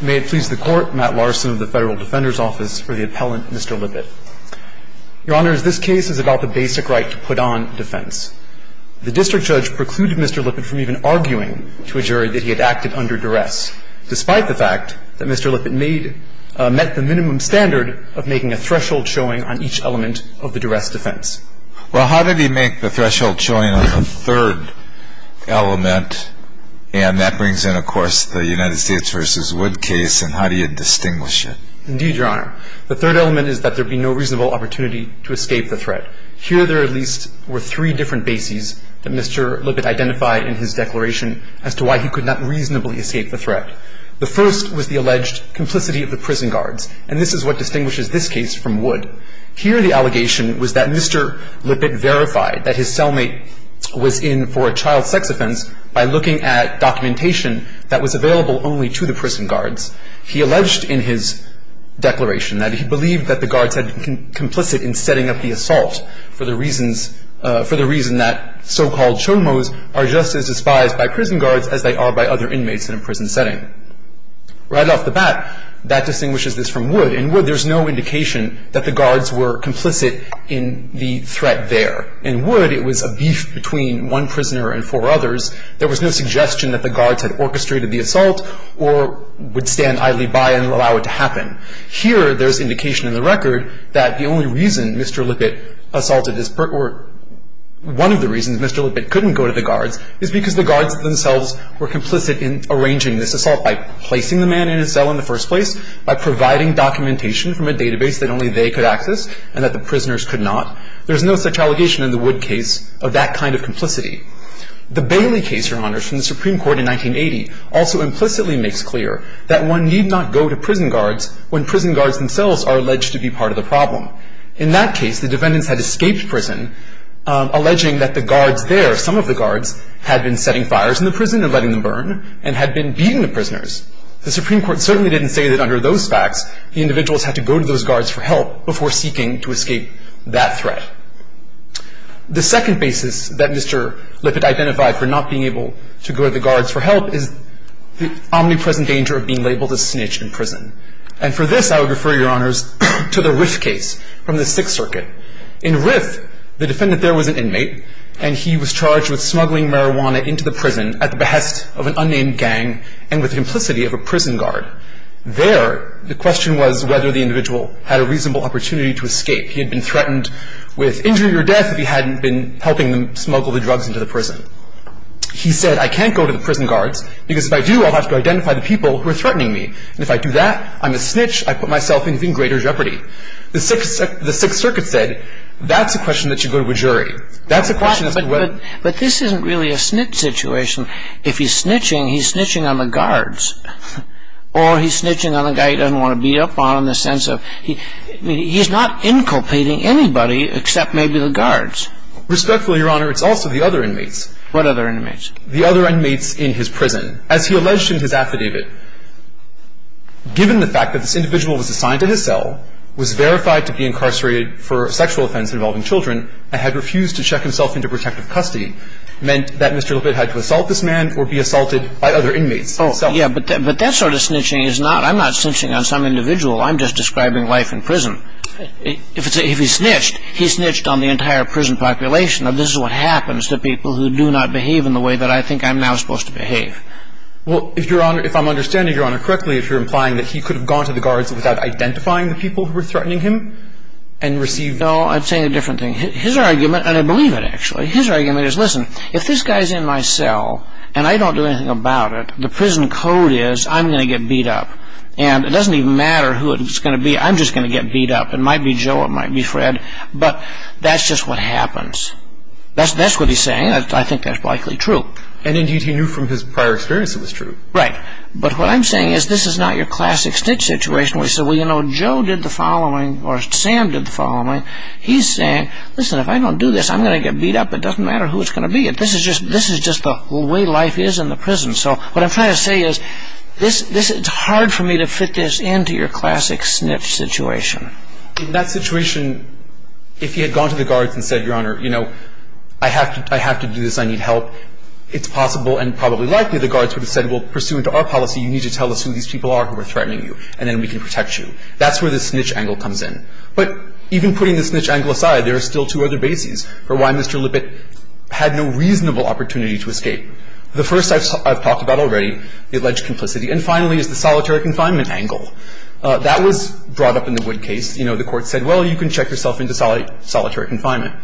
May it please the Court, Matt Larson of the Federal Defender's Office for the Appellant, Mr. Lippitt. Your Honor, this case is about the basic right to put on defense. The district judge precluded Mr. Lippitt from even arguing to a jury that he had acted under duress, despite the fact that Mr. Lippitt met the minimum standard of making a threshold showing on each element of the duress defense. Well, how did he make the threshold showing on the third element? And that brings in, of course, the United States v. Wood case, and how do you distinguish it? Indeed, Your Honor. The third element is that there be no reasonable opportunity to escape the threat. Here there at least were three different bases that Mr. Lippitt identified in his declaration as to why he could not reasonably escape the threat. The first was the alleged complicity of the prison guards, and this is what distinguishes this case from Wood. Here the allegation was that Mr. Lippitt verified that his cellmate was in for a child sex offense by looking at documentation that was available only to the prison guards. He alleged in his declaration that he believed that the guards had been complicit in setting up the assault for the reasons that so-called chomos are just as despised by prison guards as they are by other inmates in a prison setting. Right off the bat, that distinguishes this from Wood. In Wood, there's no indication that the guards were complicit in the threat there. In Wood, it was a beef between one prisoner and four others. There was no suggestion that the guards had orchestrated the assault or would stand idly by and allow it to happen. Here there's indication in the record that the only reason Mr. Lippitt assaulted this person or one of the reasons Mr. Lippitt couldn't go to the guards is because the guards themselves were complicit in arranging this assault by placing the man in his cell in the first place, by providing documentation from a database that only they could access and that the prisoners could not. There's no such allegation in the Wood case of that kind of complicity. The Bailey case, Your Honors, from the Supreme Court in 1980 also implicitly makes clear that one need not go to prison guards when prison guards themselves are alleged to be part of the problem. In that case, the defendants had escaped prison, alleging that the guards there, some of the guards, had been setting fires in the prison and letting them burn and had been beating the prisoners. The Supreme Court certainly didn't say that under those facts, the individuals had to go to those guards for help before seeking to escape that threat. The second basis that Mr. Lippitt identified for not being able to go to the guards for help is the omnipresent danger of being labeled a snitch in prison. And for this, I would refer, Your Honors, to the Riff case from the Sixth Circuit. In Riff, the defendant there was an inmate, and he was charged with smuggling marijuana into the prison at the behest of an unnamed gang and with the implicity of a prison guard. There, the question was whether the individual had a reasonable opportunity to escape. He had been threatened with injury or death if he hadn't been helping them smuggle the drugs into the prison. He said, I can't go to the prison guards because if I do, I'll have to identify the people who are threatening me. And if I do that, I'm a snitch. I put myself in even greater jeopardy. The Sixth Circuit said, that's a question that should go to a jury. That's a question as to whether – But this isn't really a snitch situation. If he's snitching, he's snitching on the guards. Or he's snitching on the guy he doesn't want to beat up on in the sense of – he's not inculpating anybody except maybe the guards. Respectfully, Your Honor, it's also the other inmates. What other inmates? The other inmates in his prison. As he alleged in his affidavit, given the fact that this individual was assigned to his cell, was verified to be incarcerated for a sexual offense involving children, and had refused to check himself into protective custody, meant that Mr. Lippitt had to assault this man or be assaulted by other inmates. Yeah, but that sort of snitching is not – I'm not snitching on some individual. I'm just describing life in prison. If he snitched, he snitched on the entire prison population. This is what happens to people who do not behave in the way that I think I'm now supposed to behave. Well, if Your Honor – if I'm understanding Your Honor correctly, if you're implying that he could have gone to the guards without identifying the people who were threatening him and received – No, I'm saying a different thing. His argument – and I believe it, actually – his argument is, listen, if this guy's in my cell and I don't do anything about it, the prison code is I'm going to get beat up. And it doesn't even matter who it's going to be. I'm just going to get beat up. It might be Joe. It might be Fred. But that's just what happens. That's what he's saying. I think that's likely true. And, indeed, he knew from his prior experience it was true. Right. But what I'm saying is this is not your classic snitch situation where you say, well, you know, Joe did the following or Sam did the following. He's saying, listen, if I don't do this, I'm going to get beat up. It doesn't matter who it's going to be. This is just the way life is in the prison. So what I'm trying to say is this – it's hard for me to fit this into your classic snitch situation. In that situation, if he had gone to the guards and said, Your Honor, you know, I have to do this. I need help. It's possible and probably likely the guards would have said, well, pursuant to our policy, you need to tell us who these people are who are threatening you, and then we can protect you. That's where the snitch angle comes in. But even putting the snitch angle aside, there are still two other bases for why Mr. Lippitt had no reasonable opportunity to escape. The first I've talked about already, the alleged complicity, and finally is the solitary confinement angle. That was brought up in the Wood case. You know, the court said, well, you can check yourself into solitary confinement.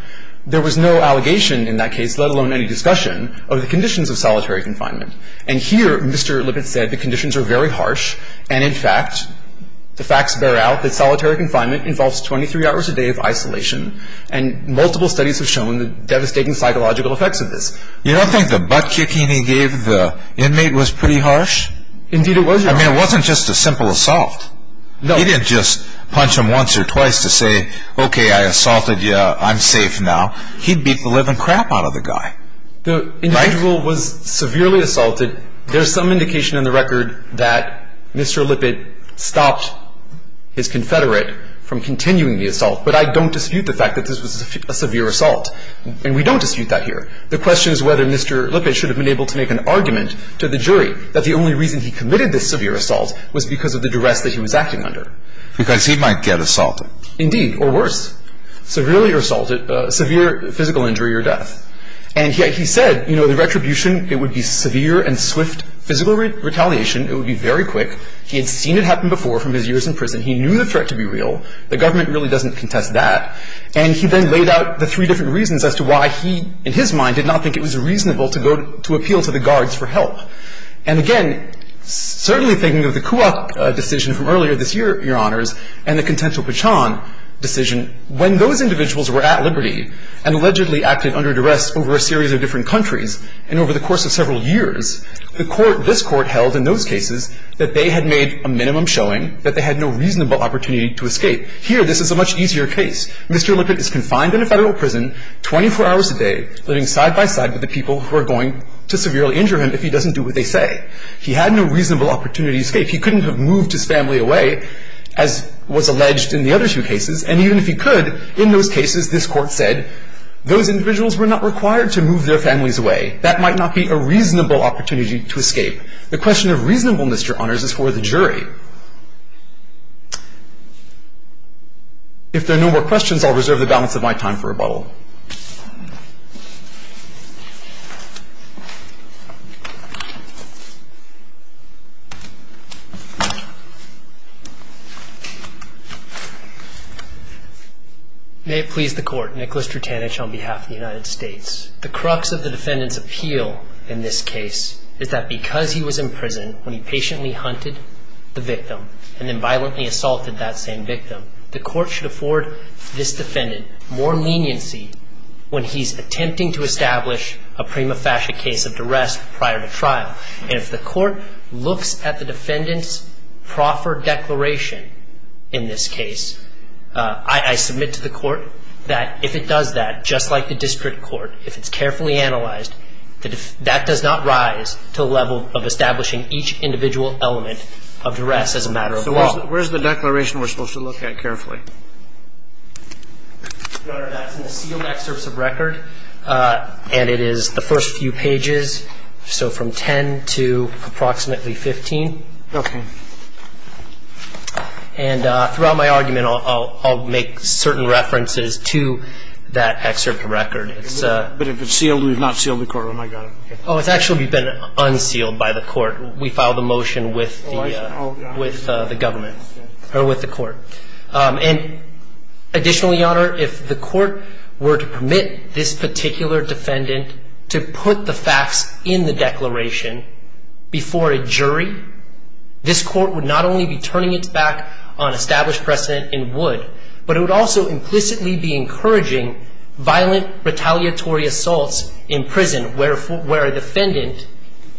There was no allegation in that case, let alone any discussion, of the conditions of solitary confinement. And here Mr. Lippitt said the conditions are very harsh, and in fact, the facts bear out that solitary confinement involves 23 hours a day of isolation, and multiple studies have shown the devastating psychological effects of this. You don't think the butt-kicking he gave the inmate was pretty harsh? Indeed it was, Your Honor. I mean, it wasn't just a simple assault. He didn't just punch him once or twice to say, okay, I assaulted you, I'm safe now. He'd beat the living crap out of the guy. The individual was severely assaulted. There's some indication in the record that Mr. Lippitt stopped his confederate from continuing the assault, but I don't dispute the fact that this was a severe assault, and we don't dispute that here. The question is whether Mr. Lippitt should have been able to make an argument to the jury that the only reason he committed this severe assault was because of the duress that he was acting under. Because he might get assaulted. Indeed, or worse. Severely assaulted, severe physical injury or death. And yet he said, you know, the retribution, it would be severe and swift physical retaliation. It would be very quick. He had seen it happen before from his years in prison. He knew the threat to be real. The government really doesn't contest that. And he then laid out the three different reasons as to why he, in his mind, did not think it was reasonable to appeal to the guards for help. And again, certainly thinking of the Kuwak decision from earlier this year, Your Honors, and the Contento Pachon decision, when those individuals were at liberty and allegedly acted under duress over a series of different countries, and over the course of several years, the court, this Court, held in those cases that they had made a minimum showing that they had no reasonable opportunity to escape. Here, this is a much easier case. Mr. Lippitt is confined in a Federal prison, 24 hours a day, living side by side with the people who are going to severely injure him if he doesn't do what they say. He had no reasonable opportunity to escape. He couldn't have moved his family away, as was alleged in the other two cases. And even if he could, in those cases, this Court said, those individuals were not required to move their families away. That might not be a reasonable opportunity to escape. The question of reasonableness, Your Honors, is for the jury. If there are no more questions, I'll reserve the balance of my time for rebuttal. May it please the Court, Nicholas Drutanich on behalf of the United States. The crux of the defendant's appeal in this case is that because he was in prison when he patiently hunted the victim, and then violently assaulted that same victim, the Court should afford this defendant more leniency for the rest of his life. When he's attempting to establish a prima facie case of duress prior to trial, and if the Court looks at the defendant's proffered declaration in this case, I submit to the Court that if it does that, just like the district court, if it's carefully analyzed, that does not rise to the level of establishing each individual element of duress as a matter of law. So where's the declaration we're supposed to look at carefully? Your Honor, that's in the sealed excerpts of record, and it is the first few pages, so from 10 to approximately 15. Okay. And throughout my argument, I'll make certain references to that excerpt of record. But if it's sealed, we've not sealed the courtroom. I got it. Oh, it's actually been unsealed by the Court. We filed a motion with the government, or with the Court. And additionally, Your Honor, if the Court were to permit this particular defendant to put the facts in the declaration before a jury, this Court would not only be turning its back on established precedent and would, but it would also implicitly be encouraging violent retaliatory assaults in prison where a defendant...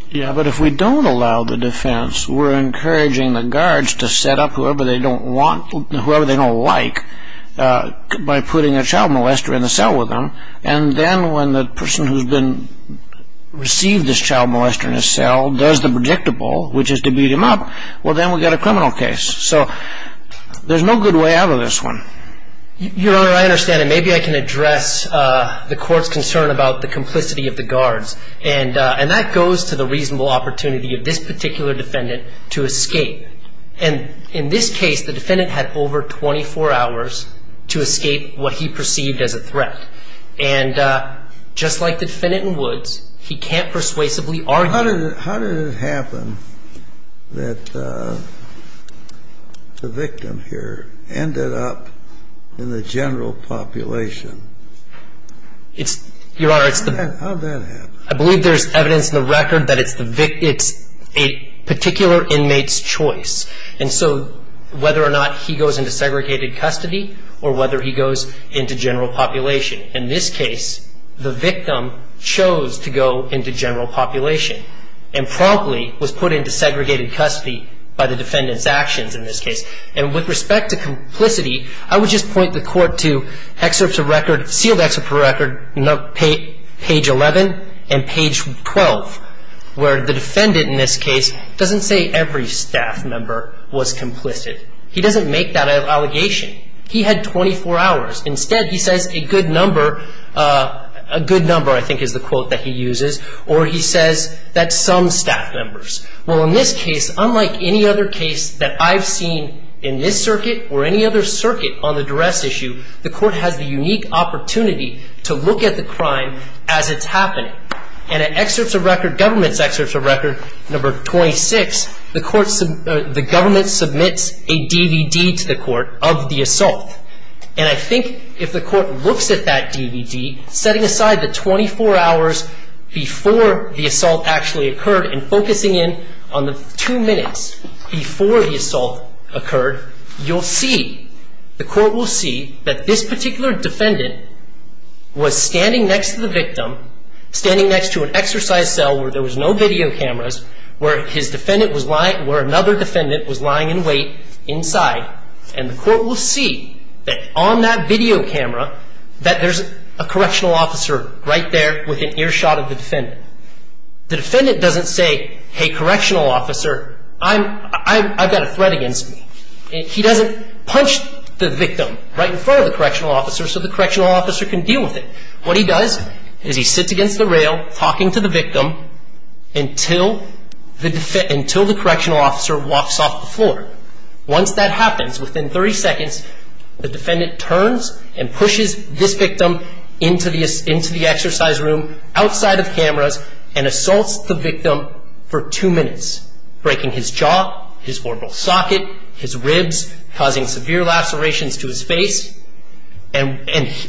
Yeah, but if we don't allow the defense, we're encouraging the guards to set up whoever they don't want, whoever they don't like, by putting a child molester in the cell with them. And then when the person who's received this child molester in the cell does the predictable, which is to beat him up, well, then we've got a criminal case. So there's no good way out of this one. Your Honor, I understand. And maybe I can address the Court's concern about the complicity of the guards. And that goes to the reasonable opportunity of this particular defendant to escape. And in this case, the defendant had over 24 hours to escape what he perceived as a threat. And just like the defendant in Woods, he can't persuasively argue... How did it happen that the victim here ended up in the general population? Your Honor, it's the... I believe there's evidence in the record that it's a particular inmate's choice. And so whether or not he goes into segregated custody or whether he goes into general population, in this case, the victim chose to go into general population and promptly was put into segregated custody by the defendant's actions in this case. And with respect to complicity, I would just point the Court to sealed excerpt of record page 11 and page 12, where the defendant in this case doesn't say every staff member was complicit. He doesn't make that allegation. He had 24 hours. Instead, he says a good number, I think is the quote that he uses, or he says that some staff members. Well, in this case, unlike any other case that I've seen in this circuit or any other circuit on the duress issue, the Court has the unique opportunity to look at the crime as it's happening. And in excerpts of record, government's excerpts of record number 26, the government submits a DVD to the Court of the assault. And I think if the Court looks at that DVD, setting aside the 24 hours before the assault actually occurred and focusing in on the two minutes before the assault occurred, you'll see, the Court will see that this particular defendant was standing next to the victim, standing next to an exercise cell where there was no video cameras, where another defendant was lying in wait inside. And the Court will see that on that video camera, that there's a correctional officer right there with an earshot of the defendant. The defendant doesn't say, hey, correctional officer, I've got a threat against me. He doesn't punch the victim right in front of the correctional officer so the correctional officer can deal with it. What he does is he sits against the rail talking to the victim until the correctional officer walks off the floor. Once that happens, within 30 seconds, the defendant turns and pushes this victim into the exercise room outside of cameras and assaults the victim for two minutes, breaking his jaw, his orbital socket, his ribs, causing severe lacerations to his face. And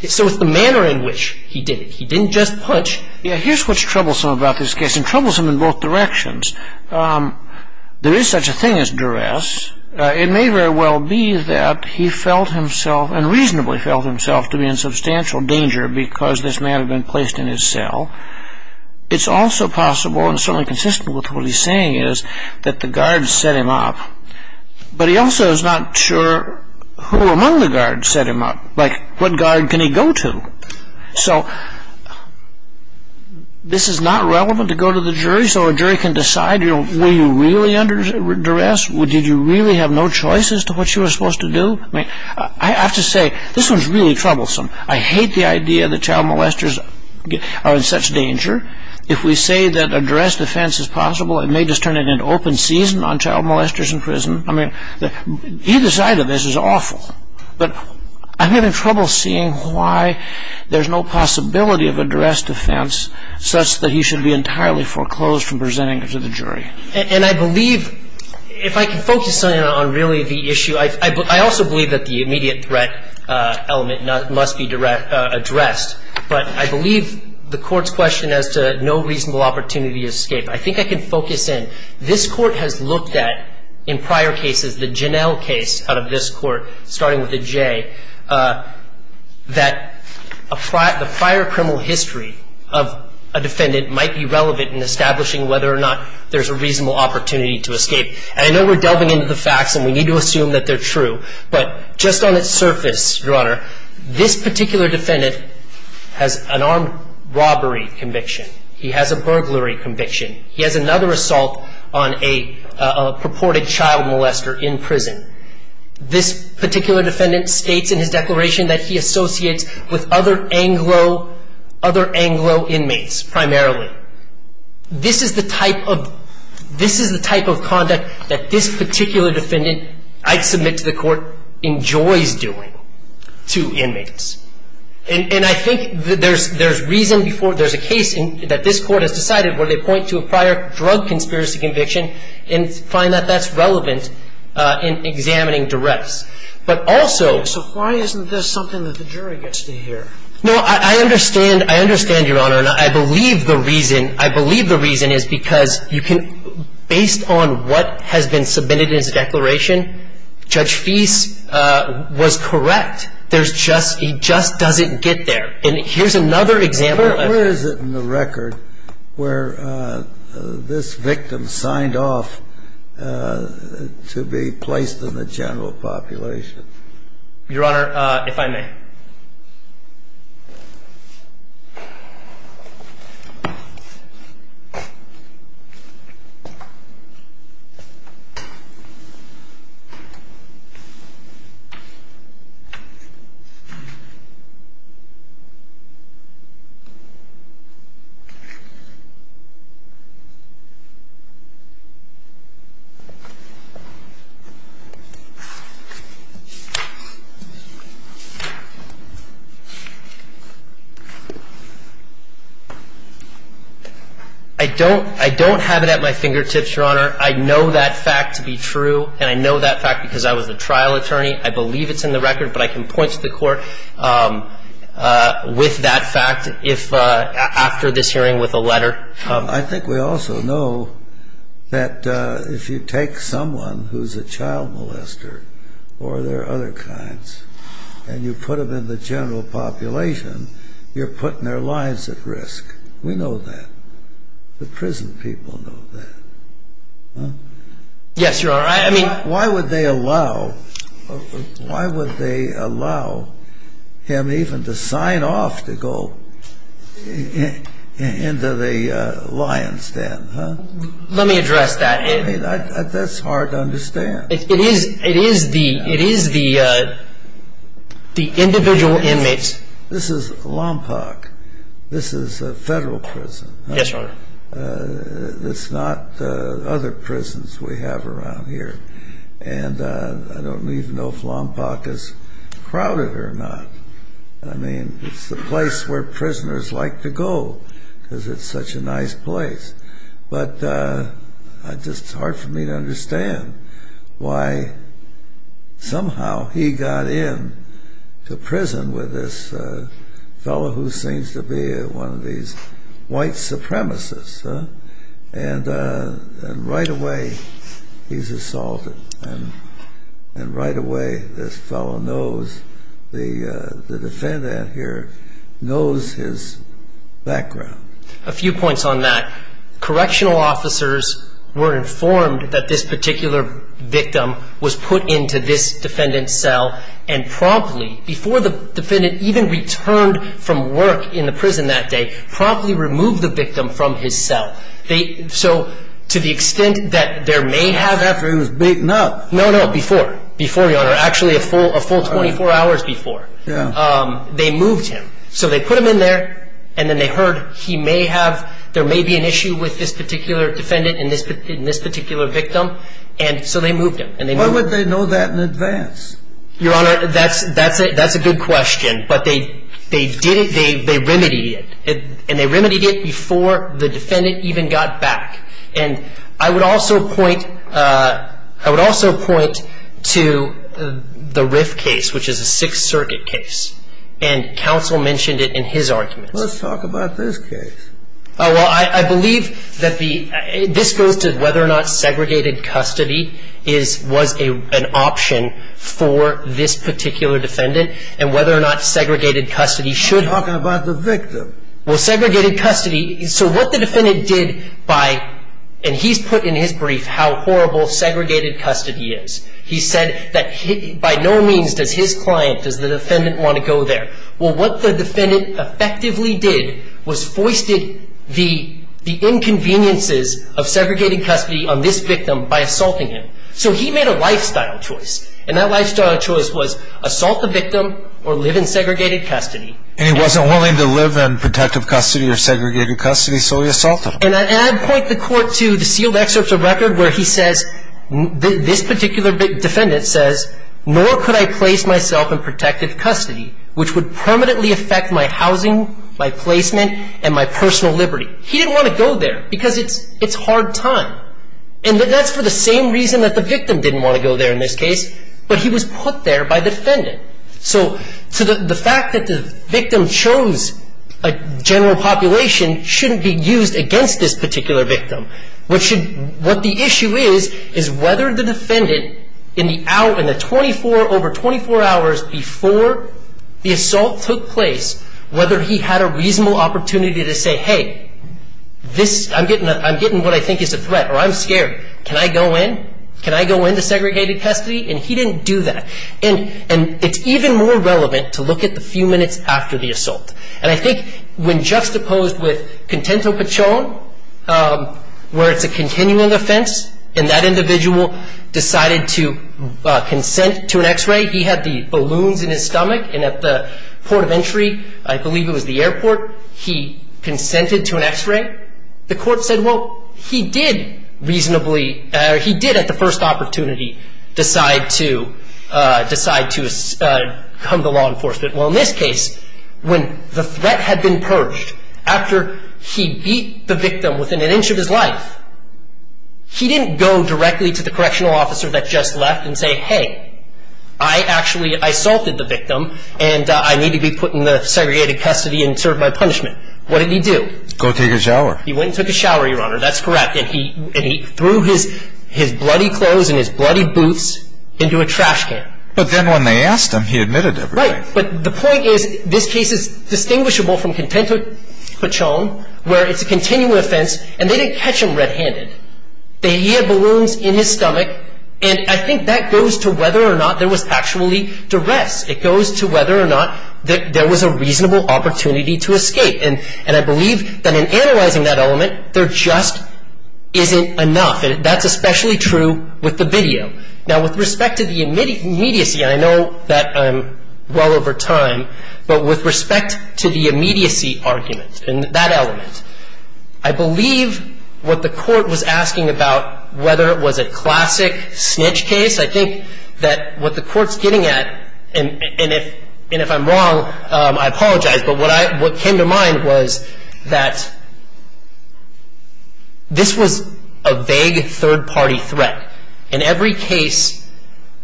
so it's the manner in which he did it. He didn't just punch. Here's what's troublesome about this case, and troublesome in both directions. There is such a thing as duress. It may very well be that he felt himself and reasonably felt himself to be in substantial danger because this man had been placed in his cell. It's also possible and certainly consistent with what he's saying is that the guards set him up. But he also is not sure who among the guards set him up. Like, what guard can he go to? So this is not relevant to go to the jury. So a jury can decide, were you really under duress? Did you really have no choice as to what you were supposed to do? I have to say, this one's really troublesome. I hate the idea that child molesters are in such danger. If we say that a duress defense is possible, it may just turn into an open season on child molesters in prison. I mean, either side of this is awful. But I'm having trouble seeing why there's no possibility of a duress defense such that he should be entirely foreclosed from presenting to the jury. And I believe, if I can focus on really the issue, I also believe that the immediate threat element must be addressed. But I believe the Court's question as to no reasonable opportunity to escape, I think I can focus in. This Court has looked at, in prior cases, the Janell case out of this Court, starting with the J, that the prior criminal history of a defendant might be relevant in establishing whether or not there's a reasonable opportunity to escape. And I know we're delving into the facts, and we need to assume that they're true. But just on its surface, Your Honor, this particular defendant has an armed robbery conviction. He has a burglary conviction. He has another assault on a purported child molester in prison. This particular defendant states in his declaration that he associates with other Anglo inmates, primarily. This is the type of conduct that this particular defendant, I'd submit to the Court, enjoys doing to inmates. And I think there's reason before there's a case that this Court has decided where they point to a prior drug conspiracy conviction and find that that's relevant in examining directs. But also why isn't this something that the jury gets to hear? No, I understand. I understand, Your Honor. And I believe the reason. I believe the reason is because you can, based on what has been submitted in his declaration, Judge Fease was correct. There's just, he just doesn't get there. And here's another example. Where is it in the record where this victim signed off to be placed in the general population? Your Honor, if I may. I don't have it at my fingertips, Your Honor. I know that fact to be true, and I know that fact because I was a trial attorney. I believe it's in the record, but I can point to the Court with that fact after this hearing with a letter. I think we also know that if you take someone who's a child molester or there are other kinds and you put them in the general population, you're putting their lives at risk. We know that. The prison people know that. Yes, Your Honor. Why would they allow him even to sign off to go into the lion's den, huh? Let me address that. I mean, that's hard to understand. It is the individual inmates. This is Lompoc. This is a Federal prison. Yes, Your Honor. It's not other prisons we have around here. And I don't even know if Lompoc is crowded or not. I mean, it's the place where prisoners like to go because it's such a nice place. But it's just hard for me to understand why somehow he got into prison with this fellow who seems to be one of these white supremacists. And right away, he's assaulted. And right away, this fellow knows, the defendant here knows his background. A few points on that. Correctional officers were informed that this particular victim was put into this defendant's cell and promptly, before the defendant even returned from work in the prison that day, promptly removed the victim from his cell. So to the extent that there may have been. After he was beaten up. No, no, before. Before, Your Honor. Actually, a full 24 hours before. Yeah. They moved him. So they put him in there and then they heard he may have, there may be an issue with this particular defendant and this particular victim. And so they moved him. Why would they know that in advance? Your Honor, that's a good question. But they did it, they remedied it. And they remedied it before the defendant even got back. And I would also point to the Riff case, which is a Sixth Circuit case. And counsel mentioned it in his argument. Let's talk about this case. Well, I believe that the, this goes to whether or not segregated custody is, was an option for this particular defendant. And whether or not segregated custody should. I'm talking about the victim. Well, segregated custody, so what the defendant did by, and he's put in his brief how horrible segregated custody is. He said that he, by no means does his client, does the defendant want to go there. Well, what the defendant effectively did was foisted the, the inconveniences of segregated custody on this victim by assaulting him. So he made a lifestyle choice. And that lifestyle choice was assault the victim or live in segregated custody. And he wasn't willing to live in protective custody or segregated custody, so he assaulted him. And I point the court to the sealed excerpts of record where he says, this particular defendant says, nor could I place myself in protective custody, which would permanently affect my housing, my placement, and my personal liberty. He didn't want to go there because it's, it's hard time. And that's for the same reason that the victim didn't want to go there in this case. But he was put there by the defendant. So, so the, the fact that the victim chose a general population shouldn't be used against this particular victim. What should, what the issue is, is whether the defendant in the hour, in the 24, over 24 hours before the assault took place, whether he had a reasonable opportunity to say, hey, this, I'm getting, I'm getting what I think is a threat, or I'm scared. Can I go in? Can I go into segregated custody? And he didn't do that. And, and it's even more relevant to look at the few minutes after the assault. And I think when juxtaposed with Contento Pichon, where it's a continuing offense, and that individual decided to consent to an x-ray, he had the balloons in his stomach, and at the port of entry, I believe it was the airport, he consented to an x-ray. The court said, well, he did reasonably, he did at the first opportunity decide to, decide to come to law enforcement. Well, in this case, when the threat had been purged, after he beat the victim within an inch of his life, he didn't go directly to the correctional officer that just left and say, hey, I actually, I assaulted the victim, and I need to be put in the segregated custody and served my punishment. What did he do? Go take a shower. He went and took a shower, Your Honor. That's correct. And he threw his bloody clothes and his bloody boots into a trash can. But then when they asked him, he admitted everything. Right. But the point is, this case is distinguishable from Contento Pichon, where it's a continuing offense, and they didn't catch him red-handed. He had balloons in his stomach, and I think that goes to whether or not there was actually duress. It goes to whether or not there was a reasonable opportunity to escape. And I believe that in analyzing that element, there just isn't enough, and that's especially true with the video. Now, with respect to the immediacy, and I know that I'm well over time, but with respect to the immediacy argument and that element, I believe what the court was asking about, whether it was a classic snitch case, I think that what the court's getting at, and if I'm wrong, I apologize, but what came to mind was that this was a vague third-party threat. In every case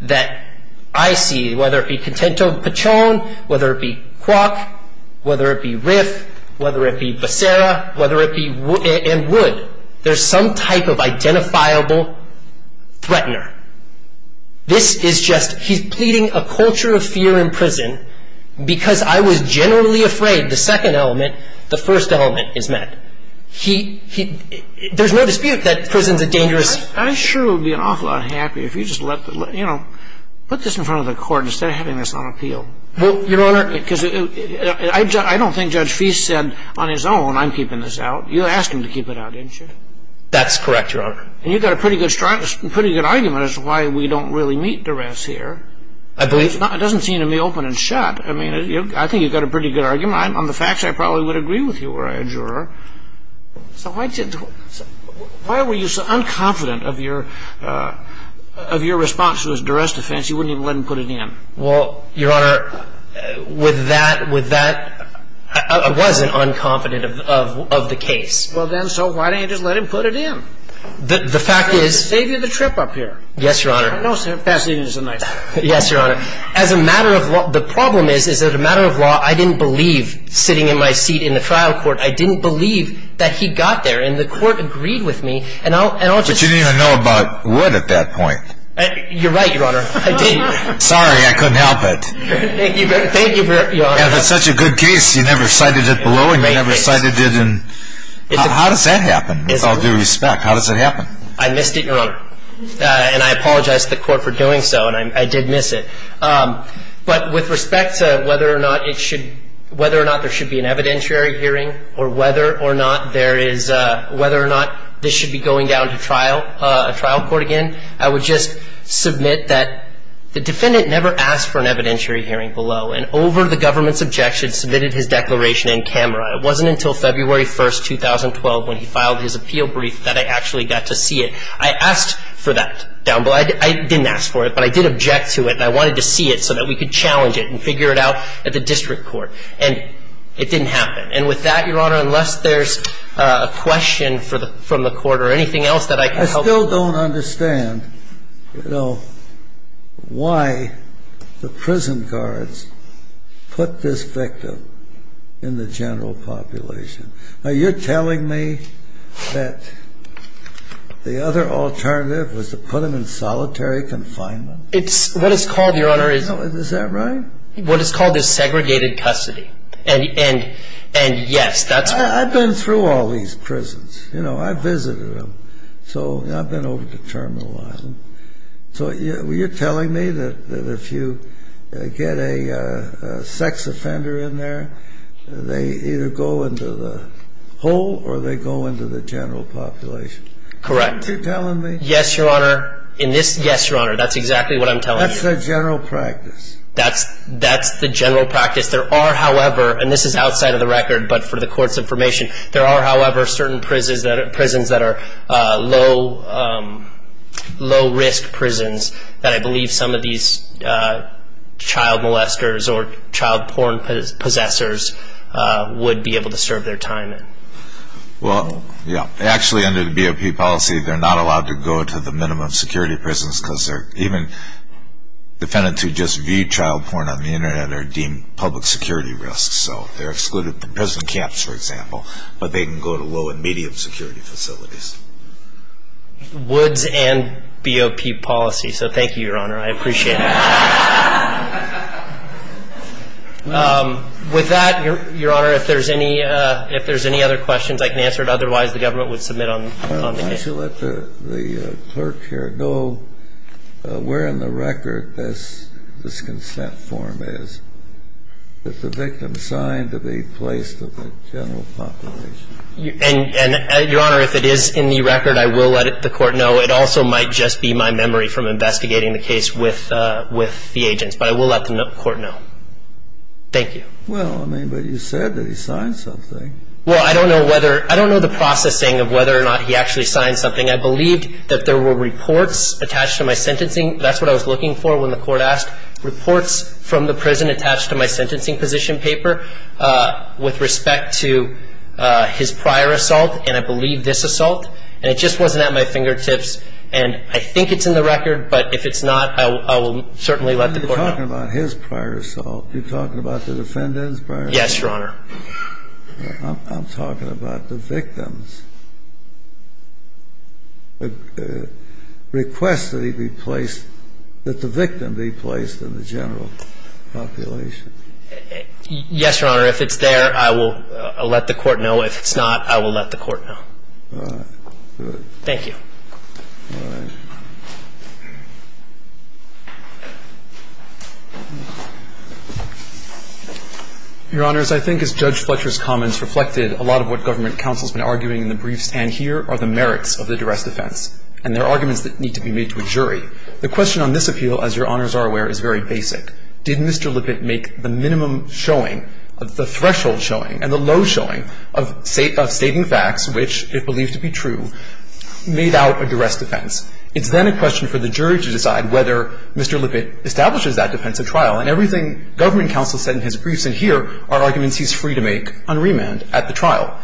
that I see, whether it be Contento Pichon, whether it be Kwok, whether it be Riff, whether it be Becerra, and Wood, there's some type of identifiable threatener. This is just, he's pleading a culture of fear in prison because I was generally afraid the second element, the first element is met. He, there's no dispute that prison's a dangerous. I sure would be an awful lot happier if you just let the, you know, put this in front of the court instead of having this on appeal. Well, Your Honor. Because I don't think Judge Feist said on his own, I'm keeping this out. You asked him to keep it out, didn't you? That's correct, Your Honor. And you've got a pretty good argument as to why we don't really meet duress here. I believe. It doesn't seem to me open and shut. I mean, I think you've got a pretty good argument. On the facts, I probably would agree with you were I a juror. So why did, why were you so unconfident of your response to his duress defense? You wouldn't even let him put it in. Well, Your Honor, with that, with that, I wasn't unconfident of the case. Well, then, so why didn't you just let him put it in? The fact is. To save you the trip up here. Yes, Your Honor. Yes, Your Honor. As a matter of law, the problem is, is that a matter of law, I didn't believe sitting in my seat in the trial court. I didn't believe that he got there. And the court agreed with me. And I'll just. But you didn't even know about what at that point. You're right, Your Honor. I didn't. Sorry, I couldn't help it. Thank you. Thank you, Your Honor. And it's such a good case, you never cited it below and you never cited it in. How does that happen? With all due respect, how does it happen? I missed it, Your Honor. And I apologize to the court for doing so, and I did miss it. But with respect to whether or not it should, whether or not there should be an evidentiary hearing or whether or not there is, whether or not this should be going down to trial, a trial court again, I would just submit that the defendant never asked for an evidentiary hearing below and over the government's objection submitted his declaration in camera. It wasn't until February 1, 2012, when he filed his appeal brief, that I actually got to see it. I asked for that down below. I didn't ask for it, but I did object to it and I wanted to see it so that we could challenge it and figure it out at the district court. And it didn't happen. And with that, Your Honor, unless there's a question from the court or anything else that I could help with. I still don't understand, you know, why the prison guards put this victim in the general population. Are you telling me that the other alternative was to put him in solitary confinement? What it's called, Your Honor, is... Is that right? What it's called is segregated custody. And yes, that's what... I've been through all these prisons. You know, I've visited them. So I've been over to Terminal Island. So you're telling me that if you get a sex offender in there, they either go into the whole or they go into the general population? Correct. Are you telling me? Yes, Your Honor. In this... Yes, Your Honor. That's exactly what I'm telling you. That's the general practice. That's the general practice. There are, however, and this is outside of the record, but for the court's information, there are, however, certain prisons that are low-risk prisons that I believe some of these child molesters or child porn possessors would be able to serve their time in. Well, yeah. Actually, under the BOP policy, they're not allowed to go to the minimum security prisons because even defendants who just view child porn on the Internet are deemed public security risks. So they're excluded from prison camps, for example, but they can go to low- and medium-security facilities. Woods and BOP policy. So thank you, Your Honor. I appreciate it. With that, Your Honor, if there's any other questions, I can answer it. Otherwise, the government would submit on the case. Could you let the clerk here know where in the record this consent form is, that the victim signed to be placed to the general population? And, Your Honor, if it is in the record, I will let the court know. It also might just be my memory from investigating the case with the agents, but I will let the court know. Thank you. Well, I mean, but you said that he signed something. Well, I don't know the processing of whether or not he actually signed something. I believed that there were reports attached to my sentencing. That's what I was looking for when the court asked. Reports from the prison attached to my sentencing position paper with respect to his prior assault, and I believe this assault, and it just wasn't at my fingertips. And I think it's in the record, but if it's not, I will certainly let the court know. You're talking about his prior assault. You're talking about the defendant's prior assault? Yes, Your Honor. I'm talking about the victim's request that he be placed, that the victim be placed in the general population. Yes, Your Honor. If it's there, I will let the court know. If it's not, I will let the court know. All right. Good. Thank you. All right. Your Honors, I think as Judge Fletcher's comments reflected, a lot of what government counsel has been arguing in the briefs and here are the merits of the duress defense, and there are arguments that need to be made to a jury. The question on this appeal, as Your Honors are aware, is very basic. Did Mr. Lippitt make the minimum showing, the threshold showing, and the low showing of stating facts which, if believed to be true, made out a duress defense? It's then a question for the jury to decide whether Mr. Lippitt establishes that defensive trial, and everything government counsel said in his briefs and here are arguments he's free to make on remand at the trial.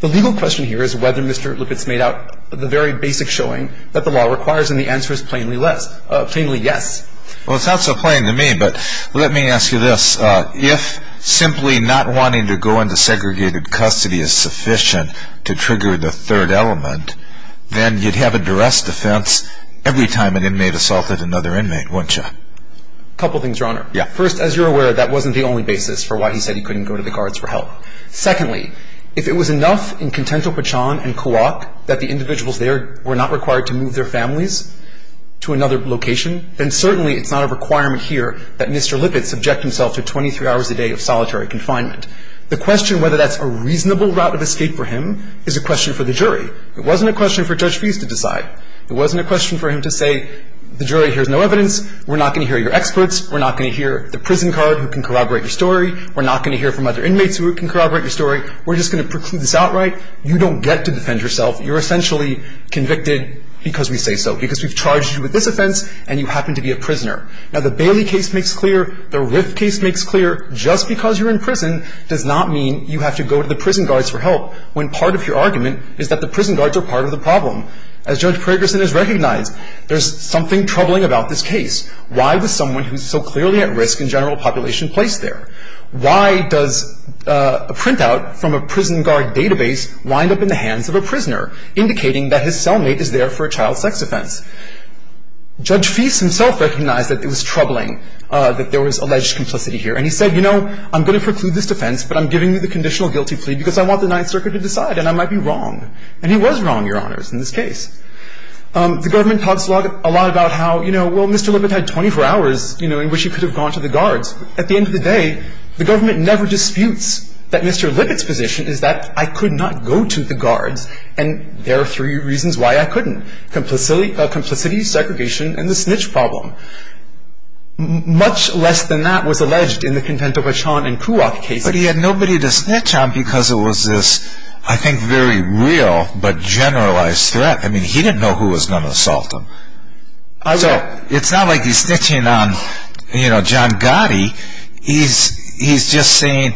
The legal question here is whether Mr. Lippitt's made out the very basic showing that the law requires, and the answer is plainly less, plainly yes. Well, it's not so plain to me, but let me ask you this. If simply not wanting to go into segregated custody is sufficient to trigger the third element, then you'd have a duress defense every time an inmate assaulted another inmate, wouldn't you? A couple things, Your Honor. Yeah. First, as you're aware, that wasn't the only basis for why he said he couldn't go to the guards for help. Secondly, if it was enough in Contento-Pachon and Kuok that the individuals there were not required to move their families to another location, then certainly it's not a requirement here that Mr. Lippitt subject himself to 23 hours a day of solitary confinement. The question whether that's a reasonable route of escape for him is a question for the jury. It wasn't a question for Judge Feist to decide. It wasn't a question for him to say, the jury hears no evidence, we're not going to hear your experts, we're not going to hear the prison guard who can corroborate your story, we're not going to hear from other inmates who can corroborate your story, we're just going to preclude this outright. You don't get to defend yourself. You're essentially convicted because we say so, because we've charged you with this offense and you happen to be a prisoner. Now, the Bailey case makes clear, the Riff case makes clear, when part of your argument is that the prison guards are part of the problem. As Judge Pragerson has recognized, there's something troubling about this case. Why was someone who's so clearly at risk in general population placed there? Why does a printout from a prison guard database wind up in the hands of a prisoner, indicating that his cellmate is there for a child sex offense? Judge Feist himself recognized that it was troubling, that there was alleged complicity here. And he said, you know, I'm going to preclude this defense, but I'm giving you the conditional guilty plea because I want the Ninth Circuit to decide and I might be wrong. And he was wrong, Your Honors, in this case. The government talks a lot about how, you know, well, Mr. Lippitt had 24 hours, you know, in which he could have gone to the guards. At the end of the day, the government never disputes that Mr. Lippitt's position is that I could not go to the guards, and there are three reasons why I couldn't, complicity, segregation, and the snitch problem. Much less than that was alleged in the Contento, Bachon, and Kuach cases. But he had nobody to snitch on because it was this, I think, very real but generalized threat. I mean, he didn't know who was going to assault him. So it's not like he's snitching on, you know, John Gotti. He's just saying,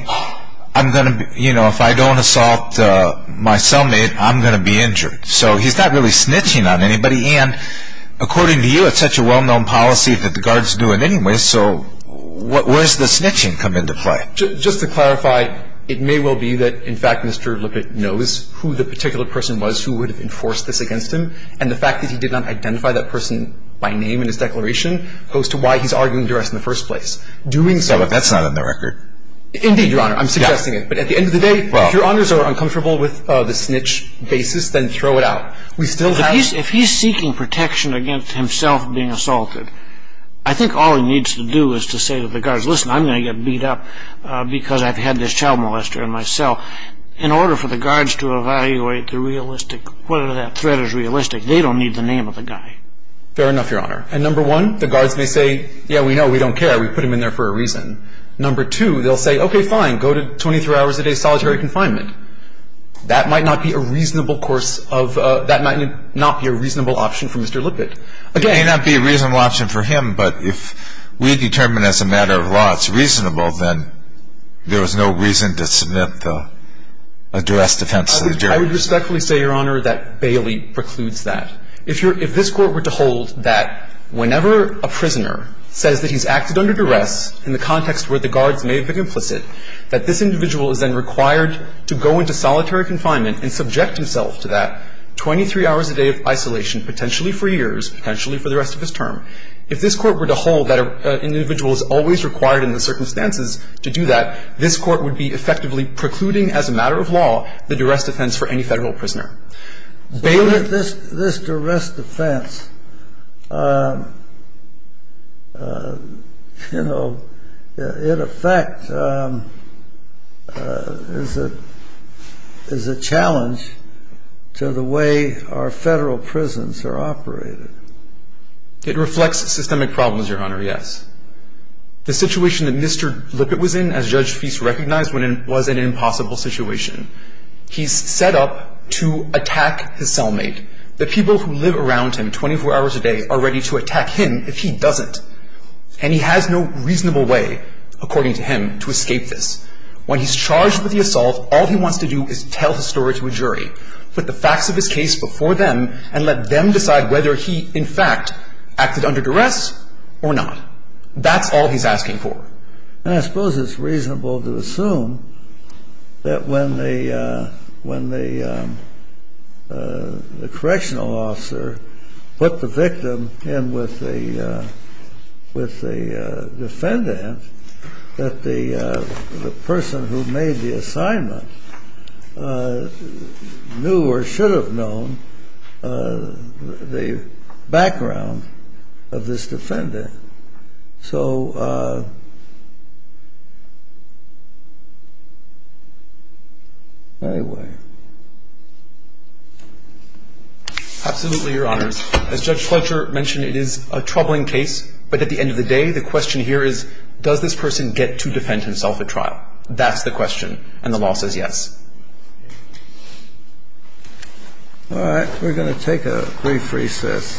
you know, if I don't assault my cellmate, I'm going to be injured. So he's not really snitching on anybody. And according to you, it's such a well-known policy that the guards do it anyway, so where does the snitching come into play? Just to clarify, it may well be that, in fact, Mr. Lippitt knows who the particular person was who would have enforced this against him. And the fact that he did not identify that person by name in his declaration goes to why he's arguing duress in the first place. But that's not on the record. Indeed, Your Honor. I'm suggesting it. But at the end of the day, if Your Honors are uncomfortable with the snitch basis, then throw it out. If he's seeking protection against himself being assaulted, I think all he needs to do is to say to the guards, listen, I'm going to get beat up because I've had this child molester in my cell. In order for the guards to evaluate the realistic, whether that threat is realistic, they don't need the name of the guy. Fair enough, Your Honor. And number one, the guards may say, yeah, we know, we don't care, we put him in there for a reason. Number two, they'll say, okay, fine, go to 23 hours a day solitary confinement. That might not be a reasonable option for Mr. Lippitt. It may not be a reasonable option for him, but if we determine as a matter of law it's reasonable, then there is no reason to submit a duress defense to the jury. I would respectfully say, Your Honor, that Bailey precludes that. If this Court were to hold that whenever a prisoner says that he's acted under duress in the context where the guards may have been implicit, that this individual is then required to go into solitary confinement and subject himself to that 23 hours a day of isolation, potentially for years, potentially for the rest of his term, if this Court were to hold that an individual is always required in the circumstances to do that, this Court would be effectively precluding as a matter of law the duress defense for any Federal prisoner. This duress defense, in effect, is a challenge to the way our Federal prisons are operated. It reflects systemic problems, Your Honor, yes. The situation that Mr. Lippitt was in, as Judge Feist recognized, was an impossible situation. He's set up to attack his cellmate. The people who live around him 24 hours a day are ready to attack him if he doesn't. And he has no reasonable way, according to him, to escape this. When he's charged with the assault, all he wants to do is tell his story to a jury, put the facts of his case before them, and let them decide whether he, in fact, acted under duress or not. That's all he's asking for. And I suppose it's reasonable to assume that when the correctional officer put the victim in with the defendant, that the person who made the assignment knew or should have known the background of this defendant. So anyway. Absolutely, Your Honors. As Judge Fletcher mentioned, it is a troubling case. But at the end of the day, the question here is, does this person get to defend himself at trial? That's the question. And the law says yes. All right. We're going to take a brief recess.